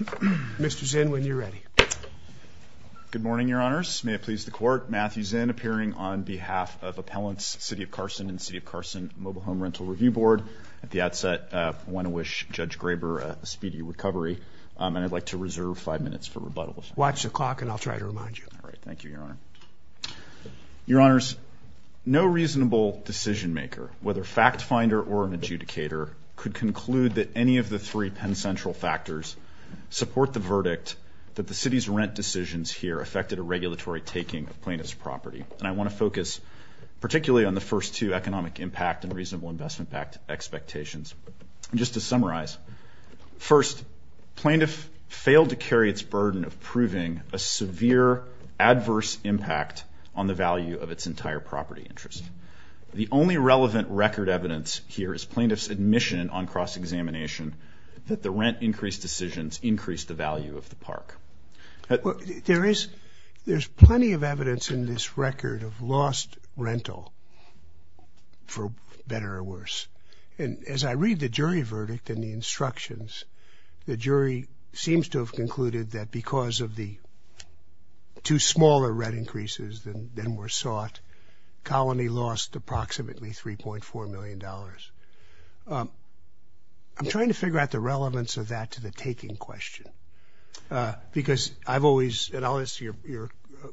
Mr. Zinn, when you're ready. Good morning, Your Honors. May it please the court, Matthew Zinn appearing on behalf of Appellants City of Carson and City of Carson Mobile Home Rental Review Board. At the outset, I want to wish Judge Graber a speedy recovery. And I'd like to reserve five minutes for rebuttals. Watch the clock, and I'll try to remind you. Thank you, Your Honor. Your Honors, no reasonable decision maker, whether fact finder or an adjudicator, could conclude that any of the three Penn Central factors support the verdict that the city's rent decisions here affected a regulatory taking of plaintiff's property. And I want to focus particularly on the first two, economic impact and reasonable investment expectations. Just to summarize, first, plaintiff failed to carry its burden of proving a severe adverse impact on the value of its entire property interest. The only relevant record evidence here is plaintiff's admission on cross-examination that the rent increase decisions increased the value of the park. There is plenty of evidence in this record of lost rental, for better or worse. And as I read the jury verdict and the instructions, the jury seems to have concluded that because of the two smaller rent increases than were sought, Colony lost approximately $3.4 million. I'm trying to figure out the relevance of that to the taking question. Because I've always, and I'll ask your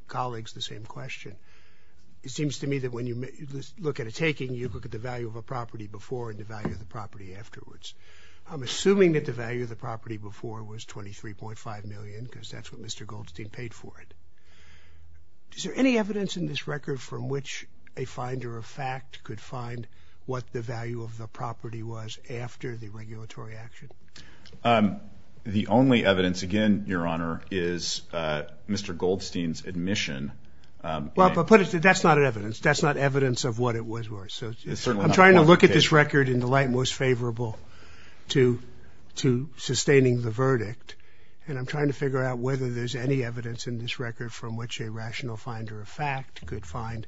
colleagues the same question. It seems to me that when you look at a taking, you look at the value of a property before and the value of the property afterwards. I'm assuming that the value of the property before was $23.5 million, because that's what Mr. Goldstein paid for it. Is there any evidence in this record from which a finder of fact could find what the value of the property was after the regulatory action? The only evidence, again, your honor, is Mr. Goldstein's admission. Well, but that's not evidence. That's not evidence of what it was worth. So I'm trying to look at this record in the light most favorable to sustaining the verdict. And I'm trying to figure out whether there's any evidence in this record from which a rational finder of fact could find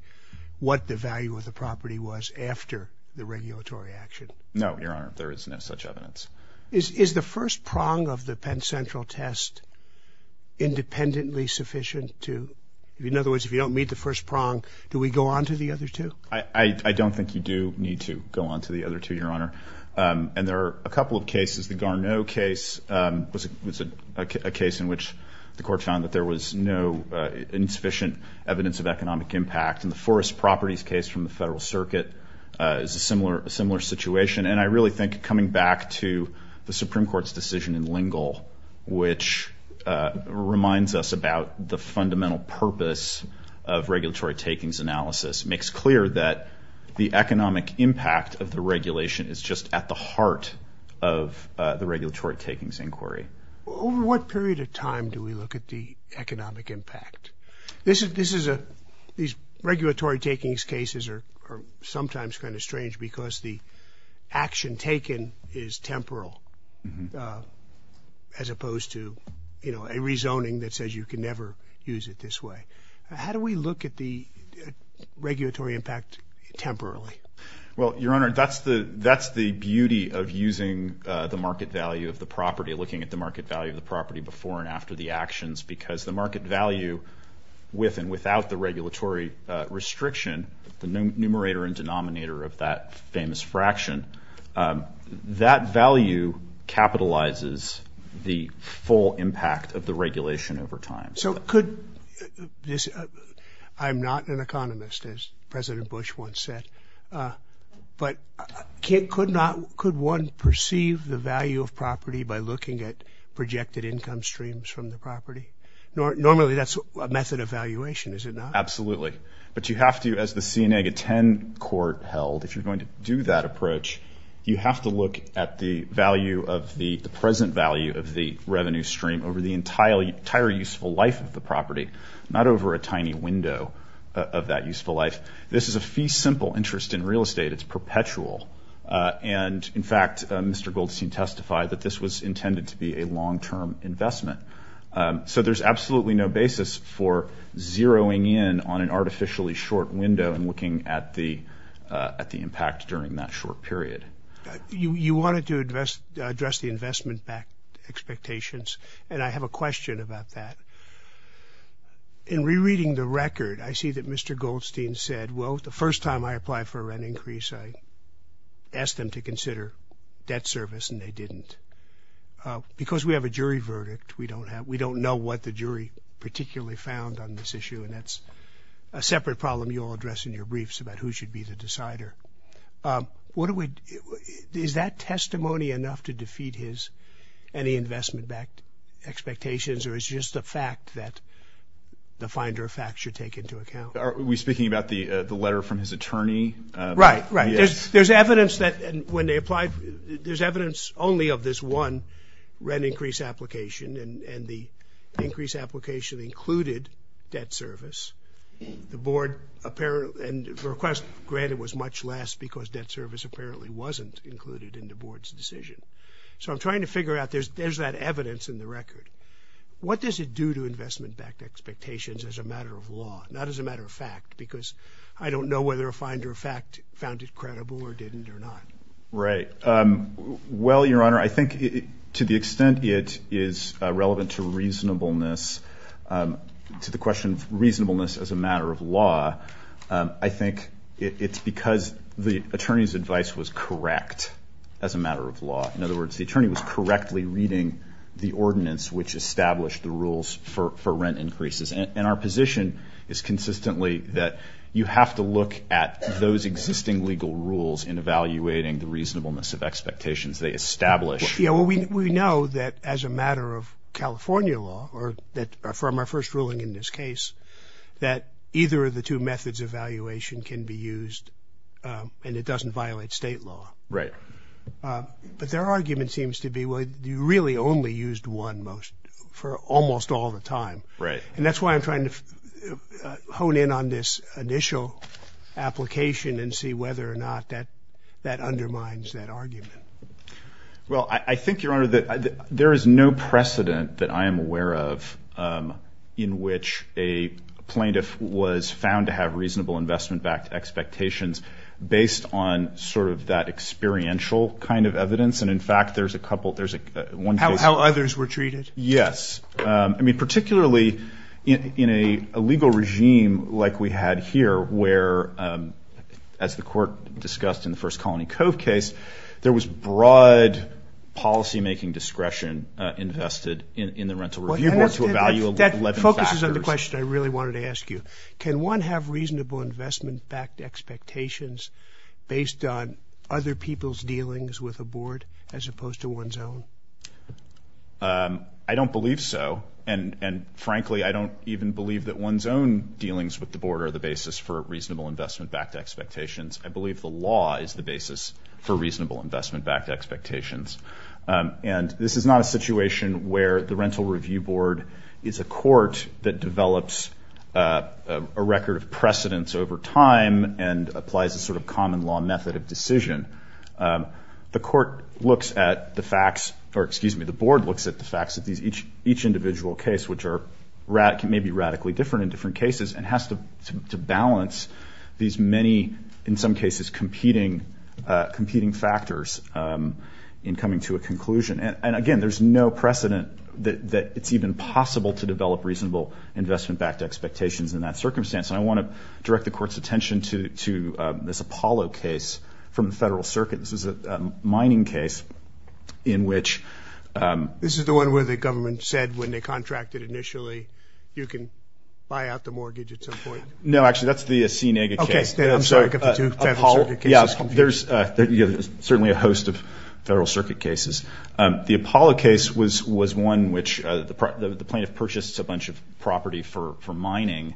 what the value of the property was after the regulatory action. No, your honor, there is no such evidence. Is the first prong of the Penn Central test independently sufficient to, in other words, if you don't meet the first prong, do we go on to the other two? I don't think you do need to go on to the other two, your honor. And there are a couple of cases. The Garneau case was a case in which the court found that there was no insufficient evidence of economic impact. And the Forest Properties case from the Federal Circuit is a similar situation. And I really think coming back to the Supreme Court's decision in Lingle, which reminds us about the fundamental purpose of regulatory takings analysis, makes clear that the economic impact of the regulation is just at the heart of the regulatory takings inquiry. Over what period of time do we look at the economic impact? These regulatory takings cases are sometimes kind of strange because the action taken is temporal as opposed to a rezoning that says you can never use it this way. How do we look at the regulatory impact temporarily? Well, your honor, that's the beauty of using the market value of the property, looking at the market value of the property before and after the actions. Because the market value with and without the regulatory restriction, the numerator and denominator of that famous fraction, that value capitalizes the full impact of the regulation over time. So could this, I'm not an economist, as President Bush once said, but could one perceive the value of property by looking at projected income streams from the property? Normally that's a method of valuation, is it not? Absolutely. But you have to, as the C-10 court held, if you're going to do that approach, you have to look at the value of the present value of the revenue stream over the entire useful life of the property, not over a tiny window of that useful life. This is a fee-simple interest in real estate. It's perpetual. And in fact, Mr. Goldstein testified that this was intended to be a long-term investment. So there's absolutely no basis for zeroing in on an artificially short window and looking at the impact during that short period. You wanted to address the investment-backed expectations. And I have a question about that. In rereading the record, I see that Mr. Goldstein said, well, the first time I applied for a rent increase, I asked them to consider debt service, and they didn't. Because we have a jury verdict, we don't know what the jury particularly found on this issue. And that's a separate problem you'll address in your briefs about who should be the decider. What do we do? Is that testimony enough to defeat his any investment-backed expectations, or is just the fact that the finder of facts should take into account? Are we speaking about the letter from his attorney? Right, right. There's evidence that when they applied, there's evidence only of this one rent increase application. And the increase application included debt service. The board apparently, and the request granted was much less because debt service apparently wasn't included in the board's decision. So I'm trying to figure out, there's that evidence in the record. What does it do to investment-backed expectations as a matter of law, not as a matter of fact? Because I don't know whether a finder of fact found it credible or didn't or not. Right. Well, Your Honor, I think to the extent it is relevant to reasonableness, to the question of reasonableness as a matter of law, I think it's because the attorney's advice was correct as a matter of law. In other words, the attorney was correctly reading the ordinance which established the rules for rent increases. And our position is consistently that you have to look at those existing legal rules in evaluating the reasonableness of expectations they establish. Yeah, well, we know that as a matter of California law, from our first ruling in this case, that either of the two methods of evaluation can be used and it doesn't violate state law. Right. But their argument seems to be, well, you really only used one for almost all the time. Right. And that's why I'm trying to hone in on this initial application and see whether or not that undermines that argument. Well, I think, Your Honor, that there is no precedent that I am aware of in which a plaintiff was found to have reasonable investment-backed expectations based on that experiential kind of evidence. And in fact, there's a couple. How others were treated? Yes. Particularly in a legal regime like we had here, where, as the court discussed in the first Colony Cove case, there was broad policymaking discretion invested in the rental review board to evaluate 11 factors. That focuses on the question I really wanted to ask you. Can one have reasonable investment-backed expectations based on other people's dealings with a board as opposed to one's own? I don't believe so. And frankly, I don't even believe that one's own dealings with the board are the basis for reasonable investment-backed expectations. I believe the law is the basis for reasonable investment-backed expectations. And this is not a situation where the rental review board is a court that develops a record of precedence over time and applies a sort of common law method of decision. The court looks at the facts, or excuse me, the board looks at the facts of each individual case, which are maybe radically different in different cases, and has to balance these many, in some cases, competing factors in coming to a conclusion. And again, there's no precedent that it's even possible to develop reasonable investment-backed expectations in that circumstance. And I want to direct the court's attention to this Apollo case from the Federal Circuit. This is a mining case in which this is the one where the government said, when they contracted initially, you can buy out the mortgage at some point. No, actually, that's the Assinaga case. I'm sorry, I got the two Federal Circuit cases confused. Yeah, there's certainly a host of Federal Circuit cases. The Apollo case was one in which the plaintiff purchased a bunch of property for mining.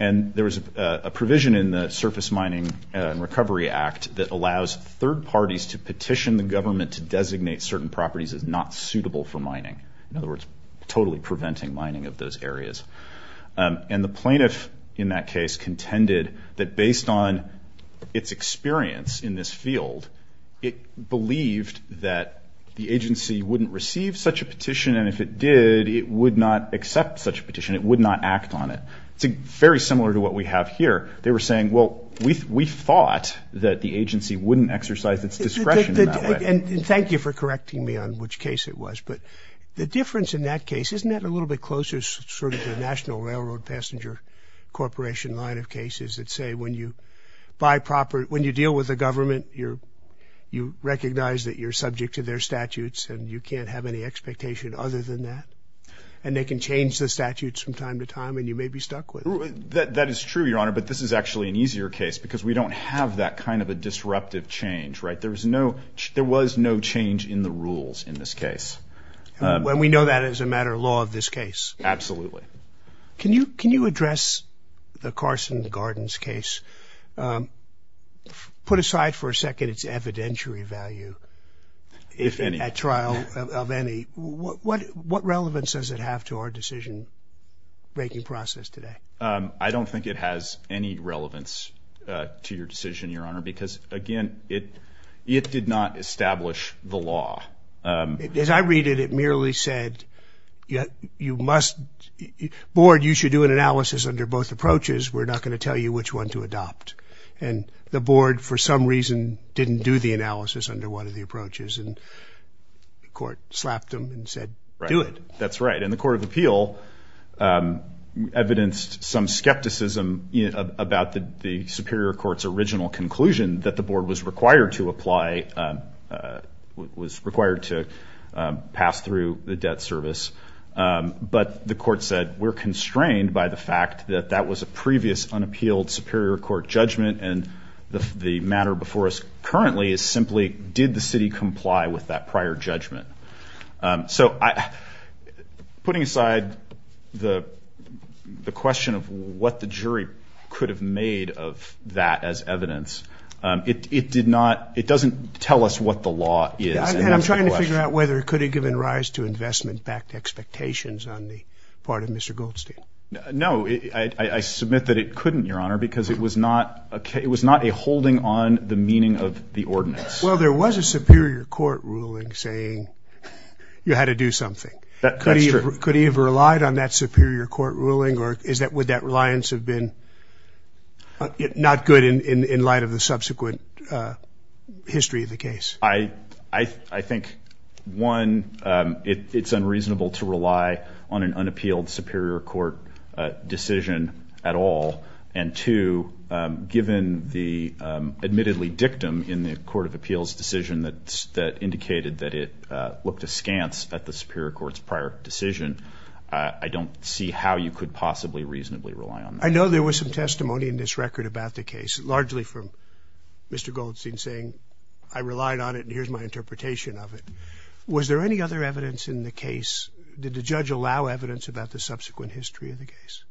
And there was a provision in the Surface Mining and Recovery Act that allows third parties to petition the government to designate certain properties as not suitable for mining. In other words, totally preventing mining of those areas. And the plaintiff in that case contended that based on its experience in this field, it believed that the agency wouldn't receive such a petition. And if it did, it would not accept such a petition. It would not act on it. It's very similar to what we have here. They were saying, well, we thought that the agency wouldn't exercise its discretion in that way. And thank you for correcting me on which case it was. But the difference in that case, isn't that a little bit closer to the National Railroad Passenger Corporation line of cases that say when you buy property, when you deal with the government, you recognize that you're subject to their statutes and you can't have any expectation other than that? And they can change the statutes from time to time and you may be stuck with it. That is true, Your Honor. But this is actually an easier case because we don't have that kind of a disruptive change, right? There was no change in the rules in this case. Well, we know that as a matter of law of this case. Absolutely. Can you address the Carson Gardens case? Put aside for a second its evidentiary value at trial of any, what relevance does it have to our decision making process today? I don't think it has any relevance to your decision, Your Honor. Because again, it did not establish the law. As I read it, it merely said, you must, board, you should do an analysis under both approaches. We're not going to tell you which one to adopt. And the board, for some reason, didn't do the analysis under one of the approaches. And the court slapped them and said, do it. That's right. And the Court of Appeal evidenced some skepticism about the Superior Court's original conclusion that the board was required to apply, was required to pass through the debt service. But the court said, we're constrained by the fact that that was a previous unappealed Superior Court judgment. And the matter before us currently is simply, did the city comply with that prior judgment? So putting aside the question of what the jury could have made of that as evidence, it doesn't tell us what the law is. Yeah, and I'm trying to figure out whether it could have given rise to investment-backed expectations on the part of Mr. Goldstein. No, I submit that it couldn't, Your Honor, because it was not a holding on the meaning of the ordinance. Well, there was a Superior Court ruling saying you had to do something. That's true. Could he have relied on that Superior Court ruling? Or would that reliance have been not good in light of the subsequent history of the case? I think, one, it's unreasonable to rely on an unappealed Superior Court decision at all. And two, given the admittedly dictum in the Court of Appeals decision that indicated that it looked askance at the Superior Court's prior decision, I don't see how you could possibly reasonably rely on that. I know there was some testimony in this record about the case, largely from Mr. Goldstein saying, I relied on it, and here's my interpretation of it. Was there any other evidence in the case? Did the judge allow evidence about the subsequent history of the case?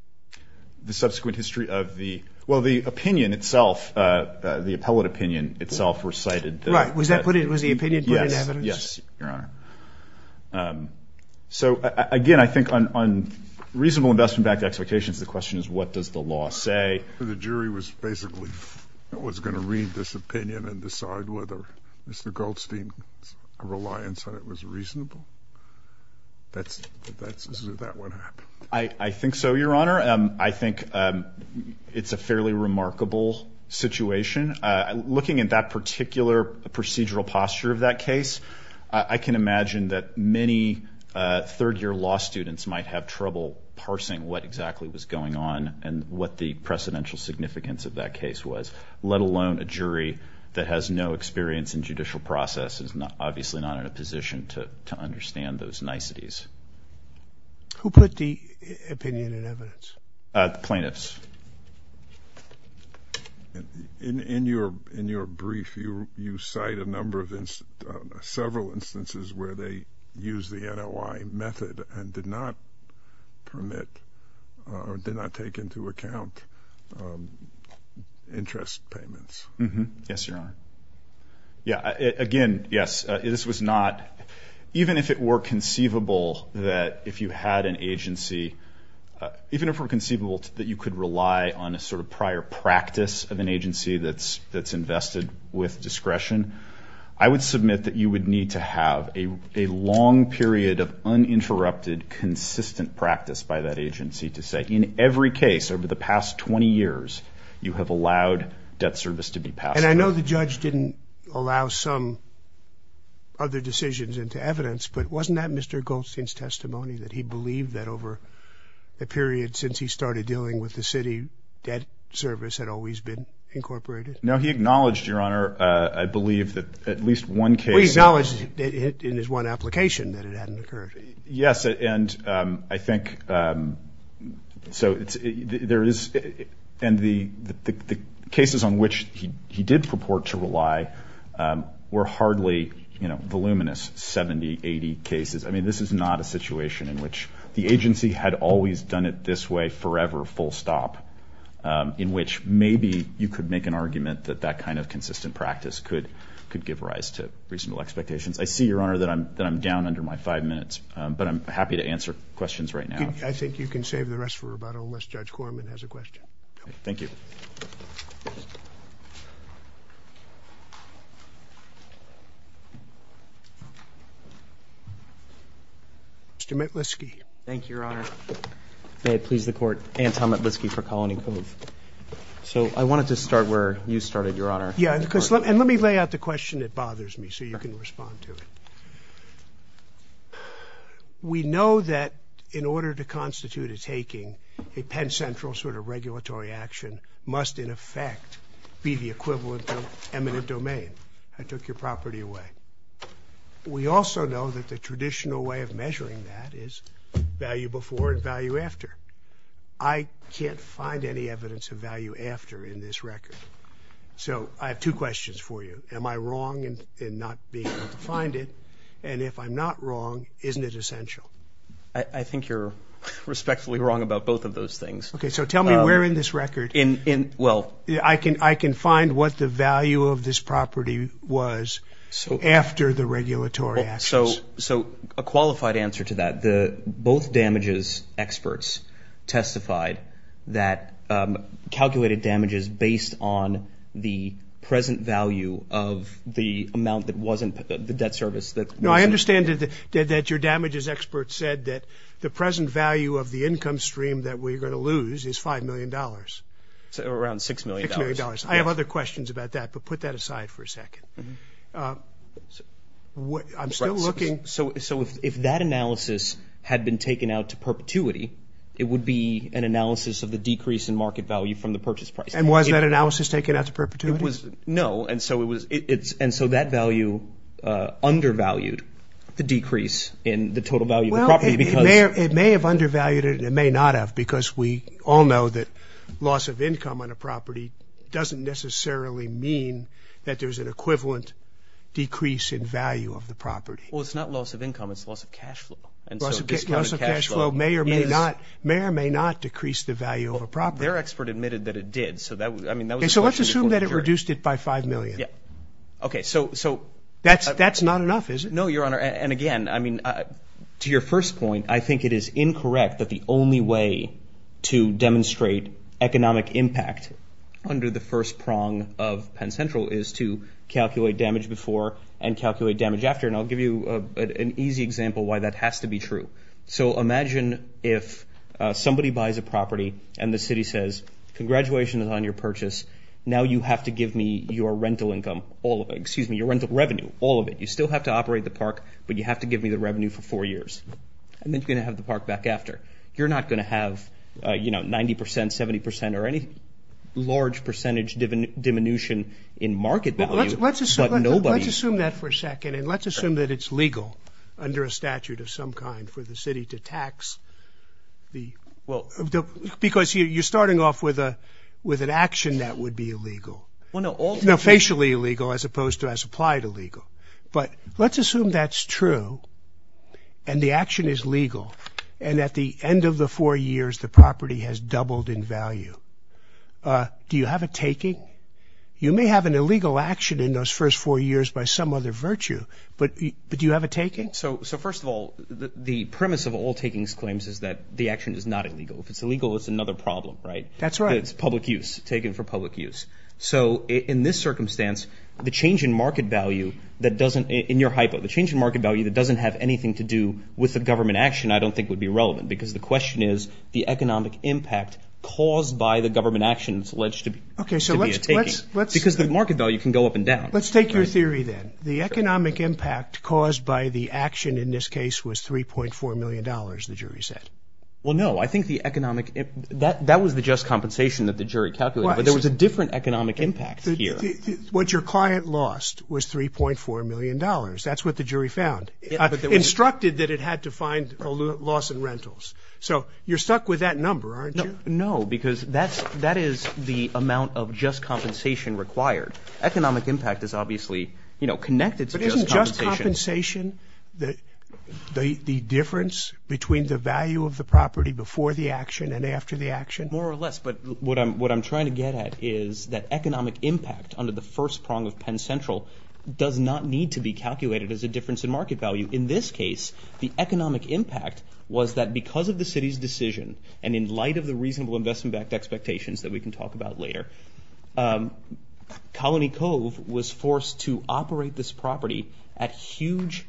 The subsequent history of the, well, the opinion itself, the appellate opinion itself recited the evidence. Right, was the opinion put in evidence? Yes, Your Honor. So again, I think on reasonable investment-backed expectations, the question is, what does the law say? The jury was basically going to read this opinion and decide whether Mr. Goldstein's reliance on it was reasonable? That's, is that what happened? I think so, Your Honor. I think it's a fairly remarkable situation. Looking at that particular procedural posture of that case, I can imagine that many third-year law students might have trouble parsing what exactly was going on and what the precedential significance of that case was, let alone a jury that has no experience in judicial process and is obviously not in a position to understand those niceties. Who put the opinion in evidence? The plaintiffs. In your brief, you cite a number of several instances where they use the NOI method and did not permit, or did not take into account, interest payments. Yes, Your Honor. Yeah, again, yes, this was not, even if it were conceivable that if you had an agency, even if it were conceivable that you could rely on a sort of prior practice of an agency that's invested with discretion, I would submit that you would need to have a long period of uninterrupted, consistent practice by that agency to say, in every case over the past 20 years, you have allowed debt service to be passed. And I know the judge didn't allow some other decisions into evidence, but wasn't that Mr. Goldstein's testimony, that he believed that over a period since he started dealing with the city, debt service had always been incorporated? No, he acknowledged, Your Honor, I believe that at least one case. Well, he acknowledged in his one application that it hadn't occurred. Yes, and I think, so there is, and the cases on which he did purport to rely were hardly voluminous. 70, 80 cases. I mean, this is not a situation in which the agency had always done it this way forever, full stop, in which maybe you could make an argument that that kind of consistent practice could give rise to reasonable expectations. I see, Your Honor, that I'm down under my five minutes, but I'm happy to answer questions right now. I think you can save the rest for about unless Judge Corman has a question. Thank you. Mr. Metlisky. Thank you, Your Honor. May it please the court, Anton Metlisky for Colony Cove. So I wanted to start where you started, Your Honor. Yeah, and let me lay out the question that bothers me so you can respond to it. We know that in order to constitute a taking, a Penn Central sort of regulatory action must, in effect, be the equivalent of eminent domain. I took your property away. We also know that the traditional way of measuring that is value before and value after. I can't find any evidence of value after in this record. So I have two questions for you. Am I wrong in not being able to find it? And if I'm not wrong, isn't it essential? I think you're respectfully wrong about both of those things. OK, so tell me where in this record I can find what the value of this property was after the regulatory actions. So a qualified answer to that, both damages experts testified that calculated damages based on the present value of the amount that wasn't the debt service that wasn't. No, I understand that your damages experts said that the present value of the income stream that we're going to lose is $5 million. So around $6 million. $6 million. I have other questions about that, but put that aside for a second. So if that analysis had been taken out to perpetuity, it would be an analysis of the decrease in market value from the purchase price. And was that analysis taken out to perpetuity? No. And so that value undervalued the decrease in the total value of the property because. It may have undervalued it. It may not have because we all know that loss of income on a property doesn't necessarily mean that there's an equivalent decrease in value of the property. Well, it's not loss of income. It's loss of cash flow. And so this kind of cash flow may or may not decrease the value of a property. Their expert admitted that it did. So that was, I mean, that was a question before the jury. So let's assume that it reduced it by $5 million. Yeah. OK, so. That's not enough, is it? No, Your Honor. And again, I mean, to your first point, I think it is incorrect that the only way to demonstrate economic impact under the first prong of Penn Central is to calculate damage before and calculate damage after. And I'll give you an easy example why that has to be true. So imagine if somebody buys a property and the city says, congratulations on your purchase. Now you have to give me your rental income, all of it. Excuse me, your rental revenue, all of it. You still have to operate the park, but you have to give me the revenue for four years. And then you're going to have the park back after. You're not going to have, you know, 90 percent, 70 percent, or any large percentage diminution in market value, but nobody. Let's assume that for a second. And let's assume that it's legal under a statute of some kind for the city to tax the, well, because you're starting off with a, with an action that would be illegal. Well, no. Now, facially illegal as opposed to as applied illegal. But let's assume that's true and the action is legal and at the end of the four years, the property has doubled in value. Do you have a taking? You may have an illegal action in those first four years by some other virtue, but do you have a taking? So first of all, the premise of all takings claims is that the action is not illegal. If it's illegal, it's another problem, right? That's right. It's public use, taken for public use. So in this circumstance, the change in market value that doesn't, in your hypo, the change in market value that doesn't have anything to do with the government action, I don't think would be relevant because the question is the economic impact caused by the government action is alleged to be a taking. Because the market value can go up and down. Let's take your theory then. The economic impact caused by the action in this case was $3.4 million, the jury said. Well, no, I think the economic, that was the just compensation that the jury calculated, but there was a different economic impact here. What your client lost was $3.4 million. That's what the jury found. Instructed that it had to find a loss in rentals. So you're stuck with that number, aren't you? No, because that is the amount of just compensation required. Economic impact is obviously connected to just compensation. But isn't just compensation the difference between the value of the property before the action and after the action? More or less, but what I'm trying to get at is that economic impact under the first prong of Penn Central does not need to be calculated as a difference in market value. In this case, the economic impact was that because of the city's decision, and in light of the reasonable investment-backed expectations that we can talk about later, Colony Cove was forced to operate this property at huge,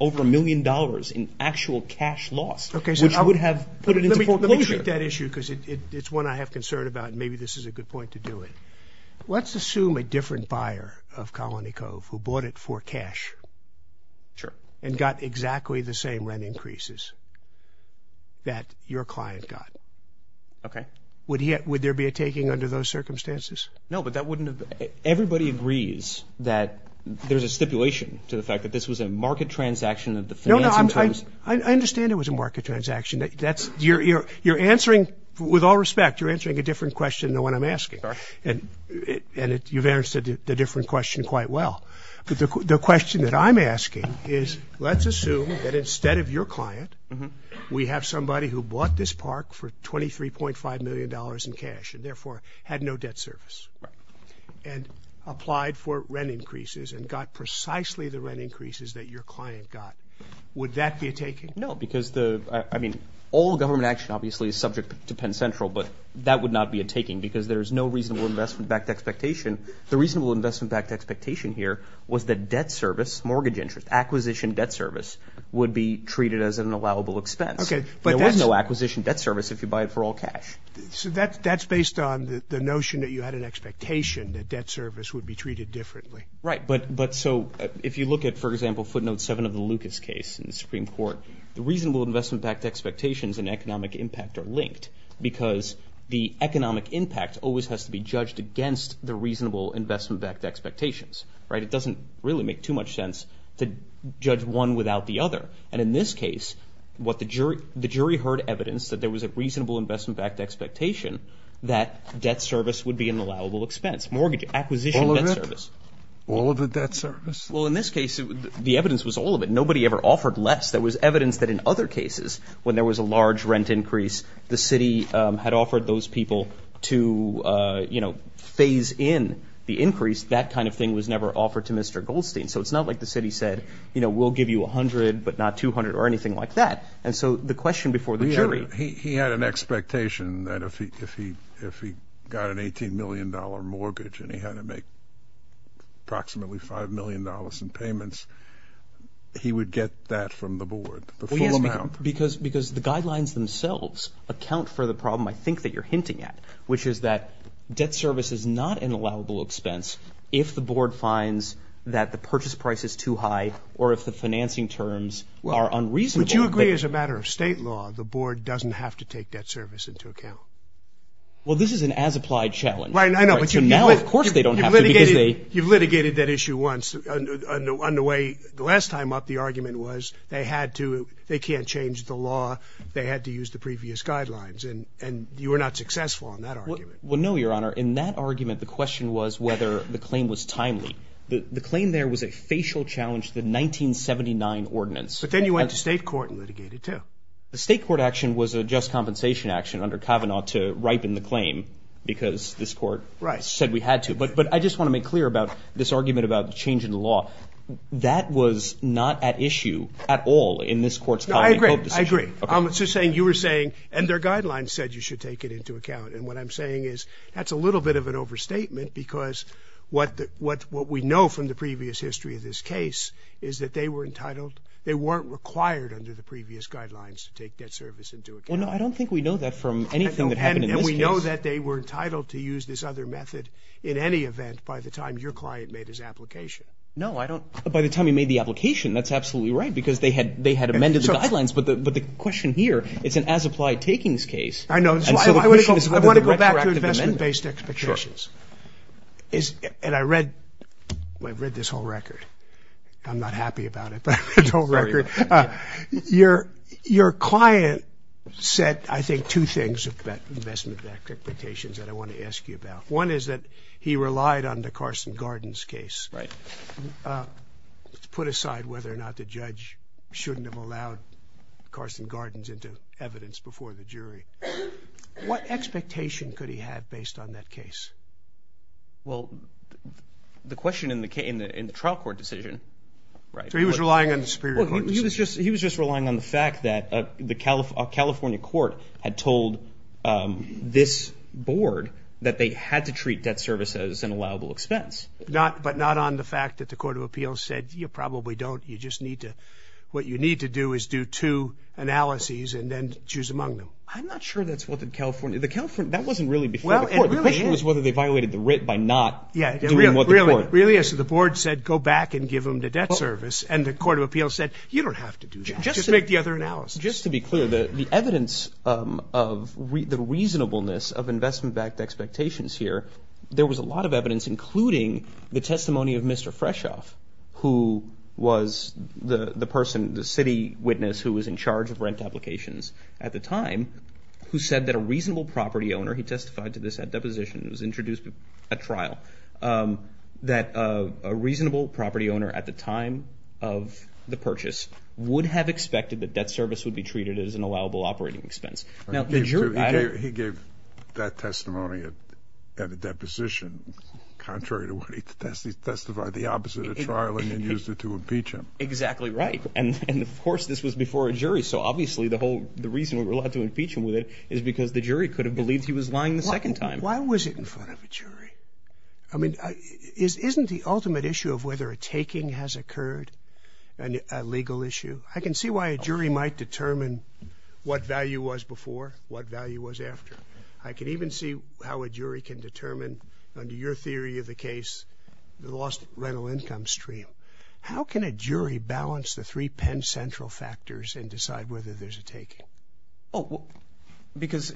over a million dollars in actual cash loss, which I would have put it into foreclosure. Let me treat that issue because it's one I have concern about, and maybe this is a good point to do it. Let's assume a different buyer of Colony Cove who bought it for cash and got exactly the same rent increases that your client got. Would there be a taking under those circumstances? No, but that wouldn't have been. Everybody agrees that there's a stipulation to the fact that this was a market transaction of the financing firms. I understand it was a market transaction. You're answering, with all respect, you're answering a different question than what I'm asking. And you've answered the different question quite well. But the question that I'm asking is, let's assume that instead of your client, we have somebody who bought this park for $23.5 million in cash and therefore had no debt service and applied for rent increases and got precisely the rent increases that your client got. Would that be a taking? No, because all government action, obviously, is subject to Penn Central, but that would not be a taking because there is no reasonable investment-backed expectation. The reasonable investment-backed expectation here was that debt service, mortgage interest, acquisition debt service, would be treated as an allowable expense. There was no acquisition debt service if you buy it for all cash. So that's based on the notion that you had an expectation that debt service would be treated differently. Right, but so if you look at, for example, footnote 7 of the Lucas case in the Supreme Court, the reasonable investment-backed expectations and economic impact are linked because the economic impact always has to be judged against the reasonable investment-backed expectations, right? It doesn't really make too much sense to judge one without the other. And in this case, the jury heard evidence that there was a reasonable investment-backed expectation that debt service would be an allowable expense, mortgage acquisition debt service. All of the debt service? Well, in this case, the evidence was all of it. Nobody ever offered less. There was evidence that in other cases, when there was a large rent increase, the city had offered those people to phase in the increase. That kind of thing was never offered to Mr. Goldstein. So it's not like the city said, we'll give you $100, but not $200 or anything like that. And so the question before the jury. He had an expectation that if he got an $18 million mortgage and he had to make approximately $5 million in payments, he would get that from the board, the full amount. Because the guidelines themselves account for the problem, I think, that you're hinting at, which is that debt service is not an allowable expense if the board finds that the purchase price is too high or if the financing terms are unreasonable. But you agree, as a matter of state law, the board doesn't have to take debt service into account? Well, this is an as-applied challenge. Right, I know, but you know it. So now, of course, they don't have to because they. You've litigated that issue once on the way. The last time up, the argument was they had to. They can't change the law. They had to use the previous guidelines. And you were not successful in that argument. Well, no, Your Honor. In that argument, the question was whether the claim was timely. The claim there was a facial challenge to the 1979 ordinance. But then you went to state court and litigated, too. The state court action was a just compensation action under Kavanaugh to ripen the claim because this court said we had to. But I just want to make clear about this argument about the change in the law. That was not at issue at all in this court's common hope decision. I agree. I'm just saying you were saying, and their guidelines said you should take it into account. And what I'm saying is that's a little bit of an overstatement because what we know from the previous history of this case is that they were entitled. They weren't required under the previous guidelines to take debt service into account. Well, no, I don't think we know that from anything that happened in this case. And we know that they were entitled to use this other method in any event by the time your client made his application. By the time he made the application, that's absolutely right because they had amended the guidelines. But the question here, it's an as-applied-takings case. I know. So I want to go back to investment-based expectations. And I read this whole record. I'm not happy about it, but this whole record. Your client said, I think, two things about investment-based expectations that I want to ask you about. One is that he relied on the Carson-Gardens case to put aside whether or not the judge shouldn't have allowed Carson-Gardens into evidence before the jury. What expectation could he have based on that case? Well, the question in the trial court decision, right? So he was relying on the Superior Court decision. He was just relying on the fact that the California Court had told this board that they had to treat debt service as an allowable expense. But not on the fact that the Court of Appeals said, you probably don't. You just need to, what you need to do is do two analyses and then choose among them. I'm not sure that's what the California, the California, that wasn't really before the court. The question was whether they violated the writ by not doing what the court. Really, so the board said, go back and give them the debt service. And the Court of Appeals said, you don't have to do that. Just make the other analysis. Just to be clear, the evidence of the reasonableness of investment-backed expectations here, there was a lot of evidence, including the testimony of Mr. Freshoff, who was the person, the city witness, who was in charge of rent applications at the time, who said that a reasonable property owner, he testified to this at deposition, it was introduced at trial, that a reasonable property owner at the time of the purchase would have expected that debt service would be treated as an allowable operating expense. Now, the jury, I don't. He gave that testimony at a deposition. Contrary to what he testified, he testified the opposite at trial and then used it to impeach him. Exactly right. And of course, this was before a jury. So obviously, the whole, the reason we were allowed to impeach him with it is because the jury could have believed he was lying the second time. Why was it in front of a jury? I mean, isn't the ultimate issue of whether a taking has a legal issue? I can see why a jury might determine what value was before, what value was after. I can even see how a jury can determine, under your theory of the case, the lost rental income stream. How can a jury balance the three Penn Central factors and decide whether there's a taking? Oh, because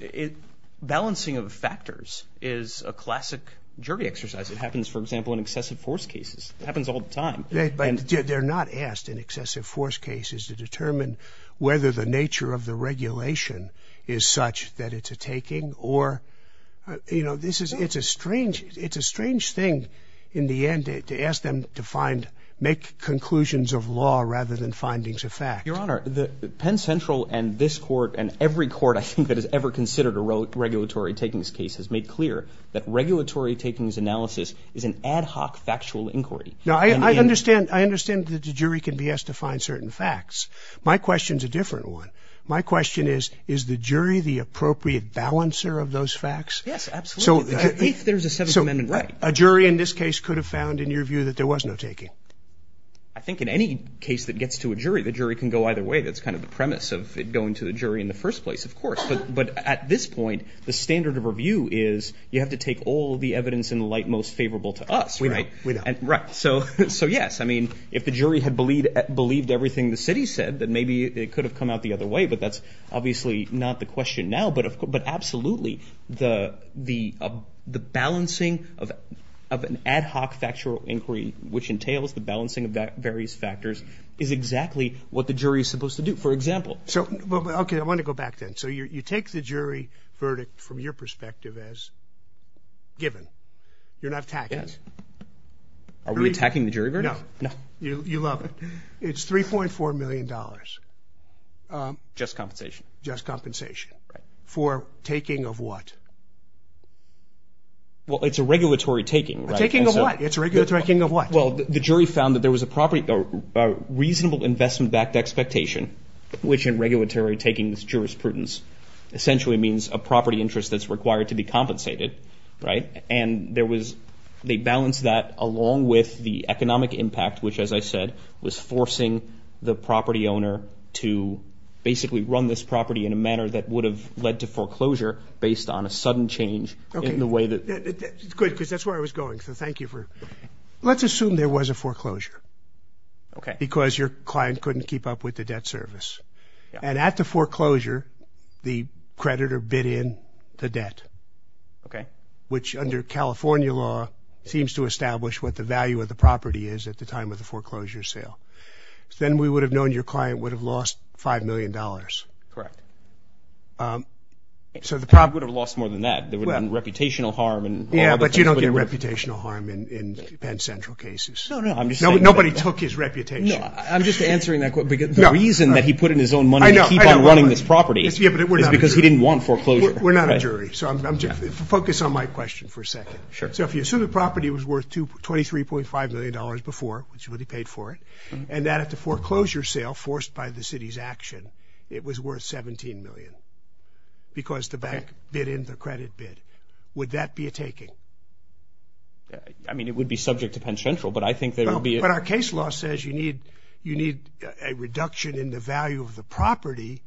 balancing of factors is a classic jury exercise. It happens, for example, in excessive force cases. It happens all the time. But they're not asked in excessive force cases to determine whether the nature of the regulation is such that it's a taking or, you know, this is, it's a strange, it's a strange thing in the end to ask them to find, make conclusions of law rather than findings of fact. Your Honor, the Penn Central and this court and every court, I think, that has ever considered a regulatory takings case has made clear that regulatory takings analysis is an ad hoc factual inquiry. Now, I understand, I understand that the jury can be asked to find certain facts. My question is a different one. My question is, is the jury the appropriate balancer of those facts? Yes, absolutely. If there's a Seventh Amendment right. A jury in this case could have found, in your view, that there was no taking. I think in any case that gets to a jury, the jury can go either way. That's kind of the premise of it going to the jury in the first place, of course. But at this point, the standard of review is you have to take all of the evidence in the light most favorable to us, right? We know, we know. So, yes, I mean, if the jury had believed everything the city said, then maybe it could have come out the other way, but that's obviously not the question now. But absolutely, the balancing of an ad hoc factual inquiry, which entails the balancing of various factors, is exactly what the jury is supposed to do. For example. So, okay, I want to go back then. So you take the jury verdict from your perspective as given. You're not attacking us. Are we attacking the jury verdict? No, you love it. It's $3.4 million. Just compensation. Just compensation. For taking of what? Well, it's a regulatory taking, right? A taking of what? It's a regulatory taking of what? Well, the jury found that there was a reasonable investment-backed expectation, which in regulatory taking is jurisprudence, essentially means a property interest that's required to be compensated, right? And they balanced that along with the economic impact, which as I said, was forcing the property owner to basically run this property in a manner that would have led to foreclosure based on a sudden change in the way that... Good, because that's where I was going. So thank you for... Let's assume there was a foreclosure. Okay. Because your client couldn't keep up with the debt service. And at the foreclosure, the creditor bid in to debt. Okay. Which under California law, seems to establish what the value of the property is at the time of the foreclosure sale. Then we would have known your client would have lost $5 million. Correct. So the prop would have lost more than that. There would have been reputational harm and... Yeah, but you don't get reputational harm in Penn Central cases. No, no, I'm just saying that... Nobody took his reputation. No, I'm just answering that question because the reason that he put in his own money to keep on running this property... Yeah, but we're not a jury. Is because he didn't want foreclosure. We're not a jury. So focus on my question for a second. Sure. So if you assume the property was worth $23.5 million before, which he would have paid for it, and that at the foreclosure sale, forced by the city's action, it was worth 17 million. Because the bank bid in the credit bid. Would that be a taking? I mean, it would be subject to Penn Central, but I think there would be... But our case law says you need a reduction in the value of the property,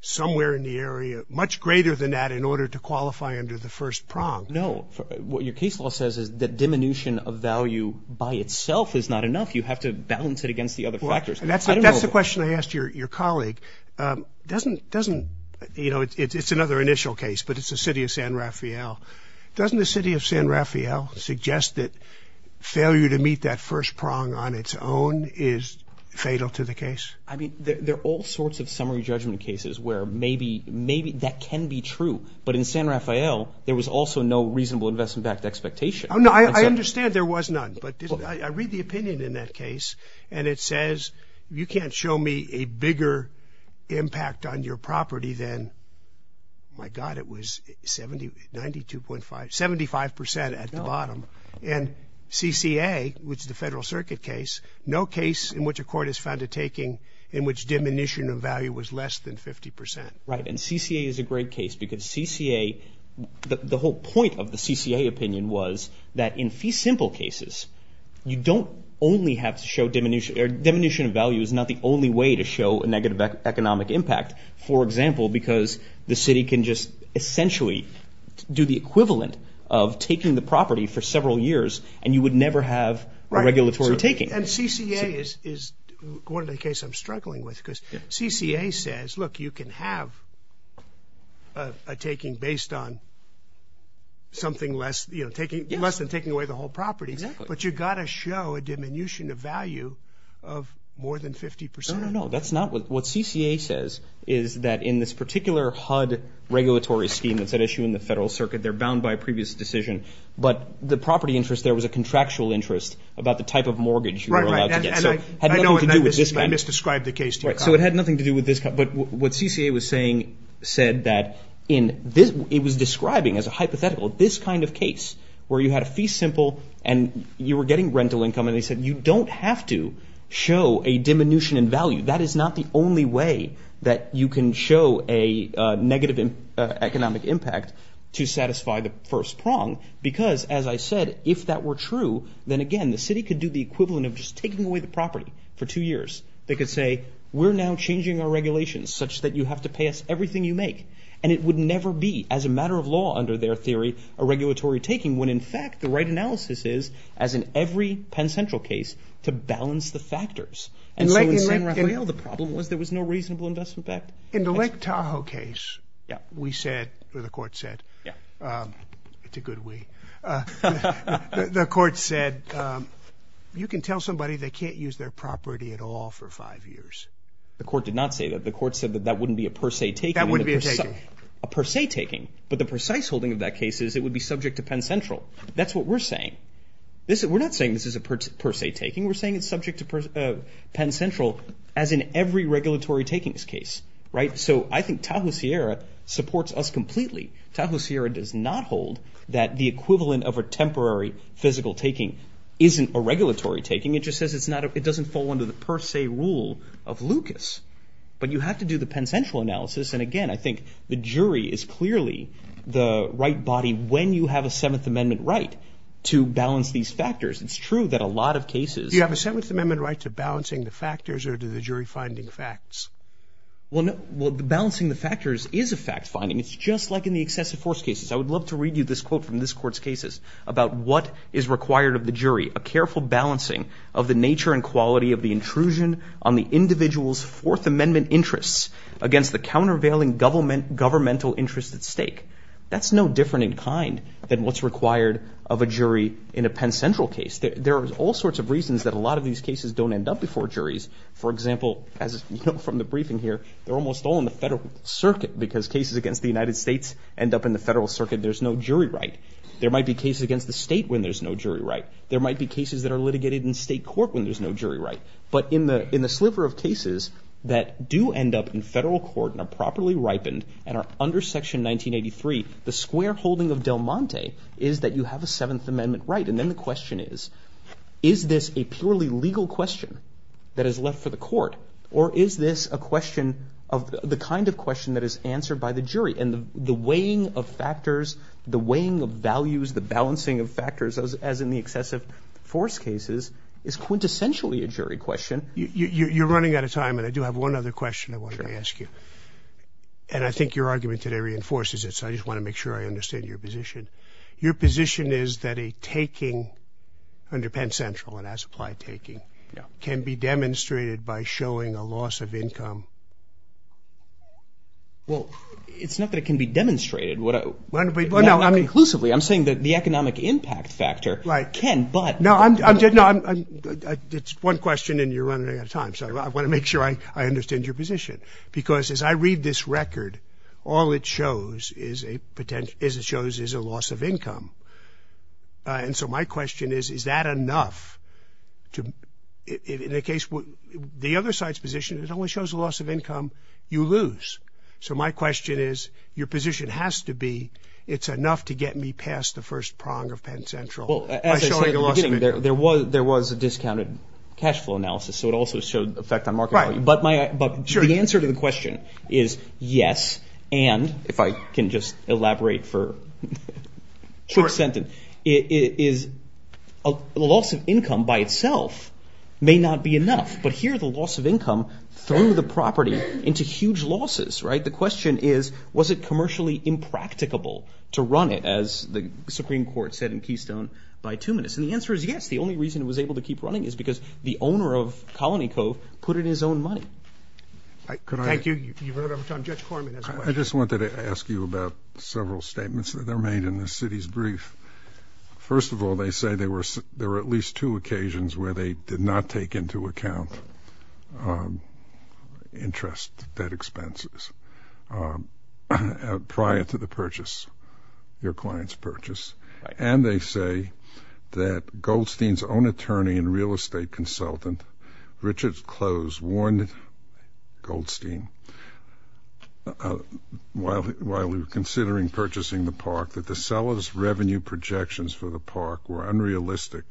somewhere in the area, much greater than that in order to qualify under the first prong. No. What your case law says is that diminution of value by itself is not enough. You have to balance it against the other factors. That's the question I asked your colleague. Doesn't, you know, it's another initial case, but it's the city of San Rafael. Doesn't the city of San Rafael suggest that failure to meet that first prong on its own is fatal to the case? I mean, there are all sorts of summary judgment cases where maybe that can be true. But in San Rafael, there was also no reasonable investment backed expectation. Oh, no, I understand there was none, but I read the opinion in that case, and it says, you can't show me a bigger impact on your property than, my God, it was 70, 92.5, 75% at the bottom. And CCA, which is the federal circuit case, no case in which a court has found a taking in which diminution of value was less than 50%. Right, and CCA is a great case because CCA, the whole point of the CCA opinion was that in fee simple cases, you don't only have to show diminution, or diminution of value is not the only way to show a negative economic impact. For example, because the city can just essentially do the equivalent of taking the property for several years, and you would never have regulatory taking. And CCA is one of the cases I'm struggling with because CCA says, look, you can have a taking based on something less than taking away the whole property, but you gotta show a diminution of value of more than 50%. No, no, no, that's not what CCA says, is that in this particular HUD regulatory scheme that's at issue in the federal circuit, they're bound by a previous decision, but the property interest there was a contractual interest about the type of mortgage you were allowed to get. So it had nothing to do with this kind of- I know, and I misdescribed the case to you, Kyle. So it had nothing to do with this, but what CCA was saying said that in this, it was describing as a hypothetical this kind of case where you had a fee simple and you were getting rental income, and they said you don't have to show a diminution in value. That is not the only way that you can show a negative economic impact to satisfy the first prong. Because as I said, if that were true, then again, the city could do the equivalent of just taking away the property for two years. They could say, we're now changing our regulations such that you have to pay us everything you make. And it would never be, as a matter of law, under their theory, a regulatory taking, when in fact, the right analysis is, as in every Penn Central case, to balance the factors. And so in San Rafael, the problem was there was no reasonable investment back- In the Lake Tahoe case, we said, or the court said, Yeah. It's a good we. The court said, you can tell somebody they can't use their property at all for five years. The court did not say that. The court said that that wouldn't be a per se taking. That wouldn't be a taking. A per se taking, but the precise holding of that case is it would be subject to Penn Central. That's what we're saying. We're not saying this is a per se taking. We're saying it's subject to Penn Central as in every regulatory takings case, right? So I think Tahoe Sierra supports us completely. Tahoe Sierra does not hold that the equivalent of a temporary physical taking isn't a regulatory taking. It just says it doesn't fall under the per se rule of Lucas, but you have to do the Penn Central analysis. And again, I think the jury is clearly the right body when you have a Seventh Amendment right to balance these factors. It's true that a lot of cases- Do you have a Seventh Amendment right to balancing the factors or do the jury finding facts? Well, balancing the factors is a fact finding. It's just like in the excessive force cases. I would love to read you this quote from this court's cases about what is required of the jury, a careful balancing of the nature and quality of the intrusion on the individual's Fourth Amendment interests against the countervailing governmental interests at stake. That's no different in kind than what's required of a jury in a Penn Central case. There are all sorts of reasons that a lot of these cases don't end up before juries. For example, as you know from the briefing here, they're almost all in the federal circuit because cases against the United States end up in the federal circuit. There's no jury right. There might be cases against the state when there's no jury right. There might be cases that are litigated in state court when there's no jury right. But in the sliver of cases that do end up in federal court and are properly ripened and are under Section 1983, the square holding of Del Monte is that you have a Seventh Amendment right. And then the question is, is this a purely legal question that is left for the court? Or is this a question of the kind of question that is answered by the jury? And the weighing of factors, the weighing of values, the balancing of factors, as in the excessive force cases, is quintessentially a jury question. You're running out of time, and I do have one other question I wanted to ask you. And I think your argument today reinforces it, so I just want to make sure I understand your position. Your position is that a taking under Penn Central, it has applied taking, can be demonstrated by showing a loss of income Well, it's not that it can be demonstrated. Not conclusively. I'm saying that the economic impact factor can, but... No, it's one question, and you're running out of time. So I want to make sure I understand your position. Because as I read this record, all it shows is a loss of income. And so my question is, is that enough to... In the case, the other side's position, it only shows a loss of income you lose. So my question is, your position has to be, it's enough to get me past the first prong of Penn Central. Well, as I said at the beginning, there was a discounted cash flow analysis, so it also showed effect on market value. But the answer to the question is yes, and if I can just elaborate for a quick sentence, is a loss of income by itself may not be enough. But here, the loss of income threw the property into huge losses, right? The question is, was it commercially impracticable to run it, as the Supreme Court said in Keystone, by two minutes? And the answer is yes. The only reason it was able to keep running is because the owner of Colony Cove put in his own money. Thank you, you've run out of time. Judge Corman has a question. I just wanted to ask you about several statements that are made in this city's brief. First of all, they say there were at least two occasions where they did not take into account interest, debt expenses, prior to the purchase, your client's purchase. And they say that Goldstein's own attorney and real estate consultant, Richard Close, warned Goldstein while we were considering purchasing the park that the seller's revenue projections for the park were unrealistic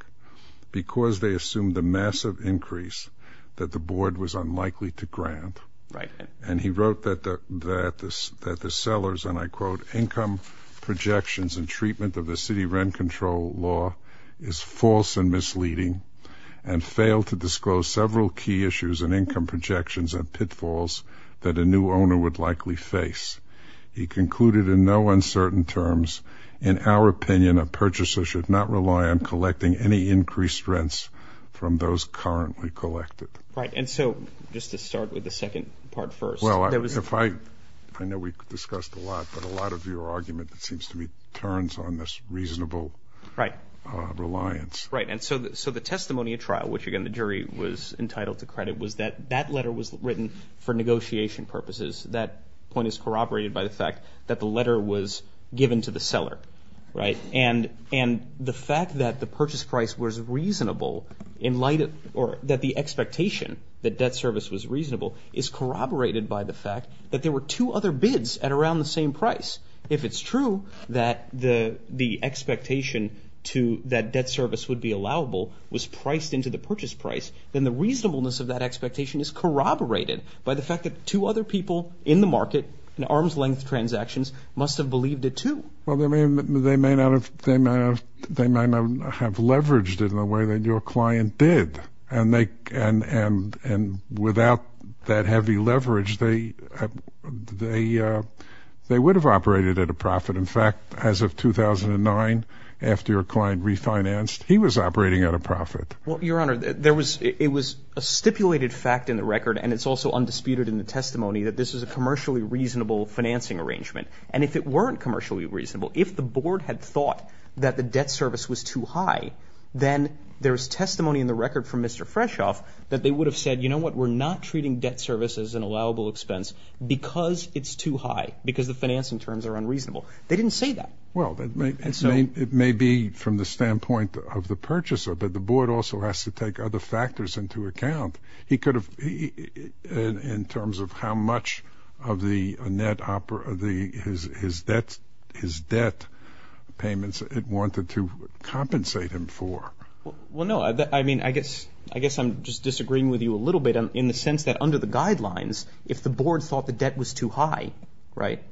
because they assumed a massive increase that the board was unlikely to grant. And he wrote that the seller's, and I quote, income projections and treatment of the city rent control law is false and misleading and failed to disclose several key issues in income projections and pitfalls that a new owner would likely face. He concluded in no uncertain terms, in our opinion, a purchaser should not rely on collecting any increased rents from those currently collected. Right, and so just to start with the second part first. Well, I know we discussed a lot, but a lot of your argument, it seems to me, turns on this reasonable reliance. Right, and so the testimony at trial, which again, the jury was entitled to credit, was that that letter was written for negotiation purposes. That point is corroborated by the fact that the letter was given to the seller, right? And the fact that the purchase price was reasonable or that the expectation that debt service was reasonable is corroborated by the fact that there were two other bids at around the same price. If it's true that the expectation to that debt service would be allowable was priced into the purchase price, then the reasonableness of that expectation is corroborated by the fact that two other people in the market, in arm's length transactions, must have believed it too. Well, they may not have leveraged it in the way that your client did. And without that heavy leverage, they would have operated at a profit. In fact, as of 2009, after your client refinanced, he was operating at a profit. Well, Your Honor, it was a stipulated fact in the record, and it's also undisputed in the testimony that this is a commercially reasonable financing arrangement. And if it weren't commercially reasonable, if the board had thought that the debt service was too high, then there's testimony in the record from Mr. Freshoff that they would have said, you know what, we're not treating debt service as an allowable expense because it's too high, because the financing terms are unreasonable. They didn't say that. Well, it may be from the standpoint of the purchaser, but the board also has to take other factors into account. He could have, in terms of how much of the net, his debt payments, it wanted to compensate him for what he owed. Well, no, I mean, I guess I'm just disagreeing with you a little bit in the sense that under the guidelines if the board thought the debt was too high, right,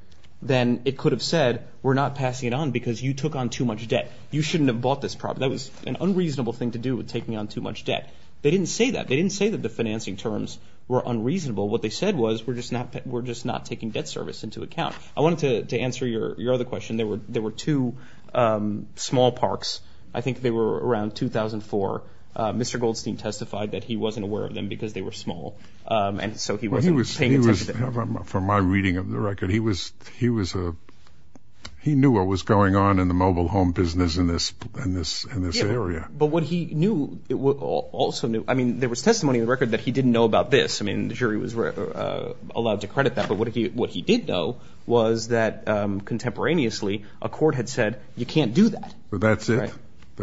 then it could have said, we're not passing it on because you took on too much debt. You shouldn't have bought this property. That was an unreasonable thing to do with taking on too much debt. They didn't say that. They didn't say that the financing terms were unreasonable. What they said was, we're just not taking debt service into account. I wanted to answer your other question. There were two small parks. I think they were around 2004. Mr. Goldstein testified that he wasn't aware of them because they were small. And so he wasn't paying attention to them. From my reading of the record, he knew what was going on in the mobile home business in this area. But what he knew, also knew, I mean, there was testimony in the record that he didn't know about this. I mean, the jury was allowed to credit that, but what he did know was that contemporaneously, a court had said, you can't do that. That's it?